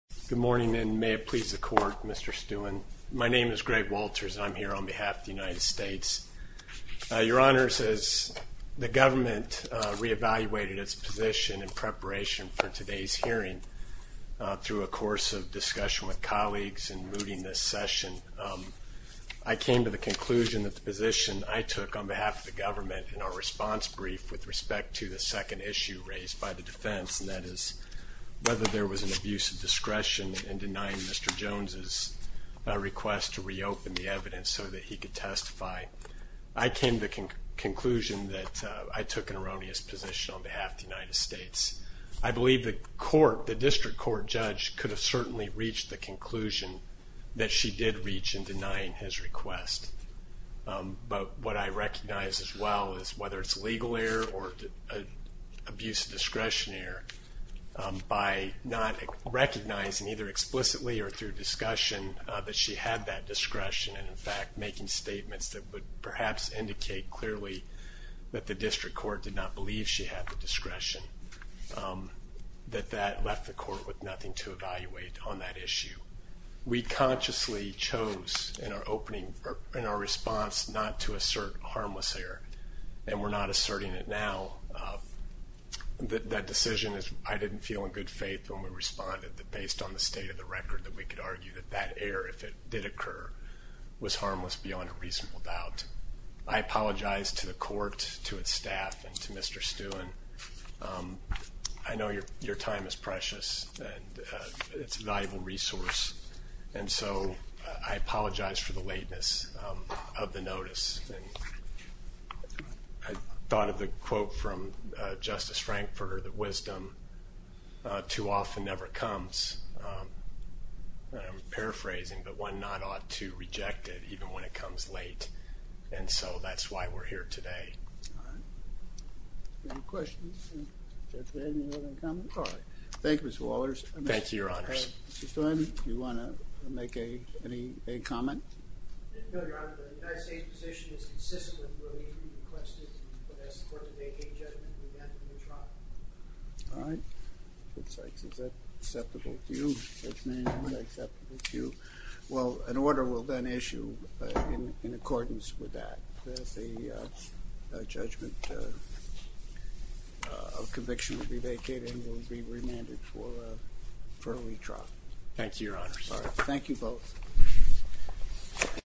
Good morning and may it please the Court, Mr. Stewart. My name is Greg Walters and I'm here on behalf of the United States. Your Honor, as the government reevaluated its position in preparation for today's hearing through a course of discussion with colleagues and mooting this session, I came to the conclusion that the position I took on behalf of the government in our response brief with respect to the second issue raised by the defense, and that is whether there was an abuse of discretion in denying Mr. Jones' request to reopen the evidence so that he could testify. I came to the conclusion that I took an erroneous position on behalf of the United States. I believe the District Court judge could have certainly reached the conclusion that she did reach in denying his request. But what I recognize as well is whether it's legal error or abuse of discretion error, by not recognizing either explicitly or through discussion that she had that discretion and in fact making statements that would perhaps indicate clearly that the District Court did not believe she had the discretion, that that left the Court with nothing to evaluate on that issue. We consciously chose in our response not to assert harmless error, and we're not asserting it now. That decision, I didn't feel in good faith when we responded that based on the state of the record that we could argue that that error, if it did occur, was harmless beyond a reasonable doubt. I apologize to the Court, to its staff, and to Mr. Stewart. I know your time is precious and it's a valuable resource, and so I apologize for the lateness of the notice. I thought of the quote from Justice Frankfurter, that wisdom too often never comes. I'm paraphrasing, but one not ought to reject it even when it comes late, and so that's why we're here today. Any questions? Thank you, Mr. Walters. Thank you, Your Honors. Mr. Stewart, do you want to make any comment? No, Your Honor. The United States position is consistent with what we requested when I asked the Court to make a judgment in the event of a new trial. All right. Is that acceptable to you? Well, an order will then issue in accordance with that. The judgment of conviction will be vacated and will be remanded for a retrial. Thank you, Your Honors. All right. Thank you both.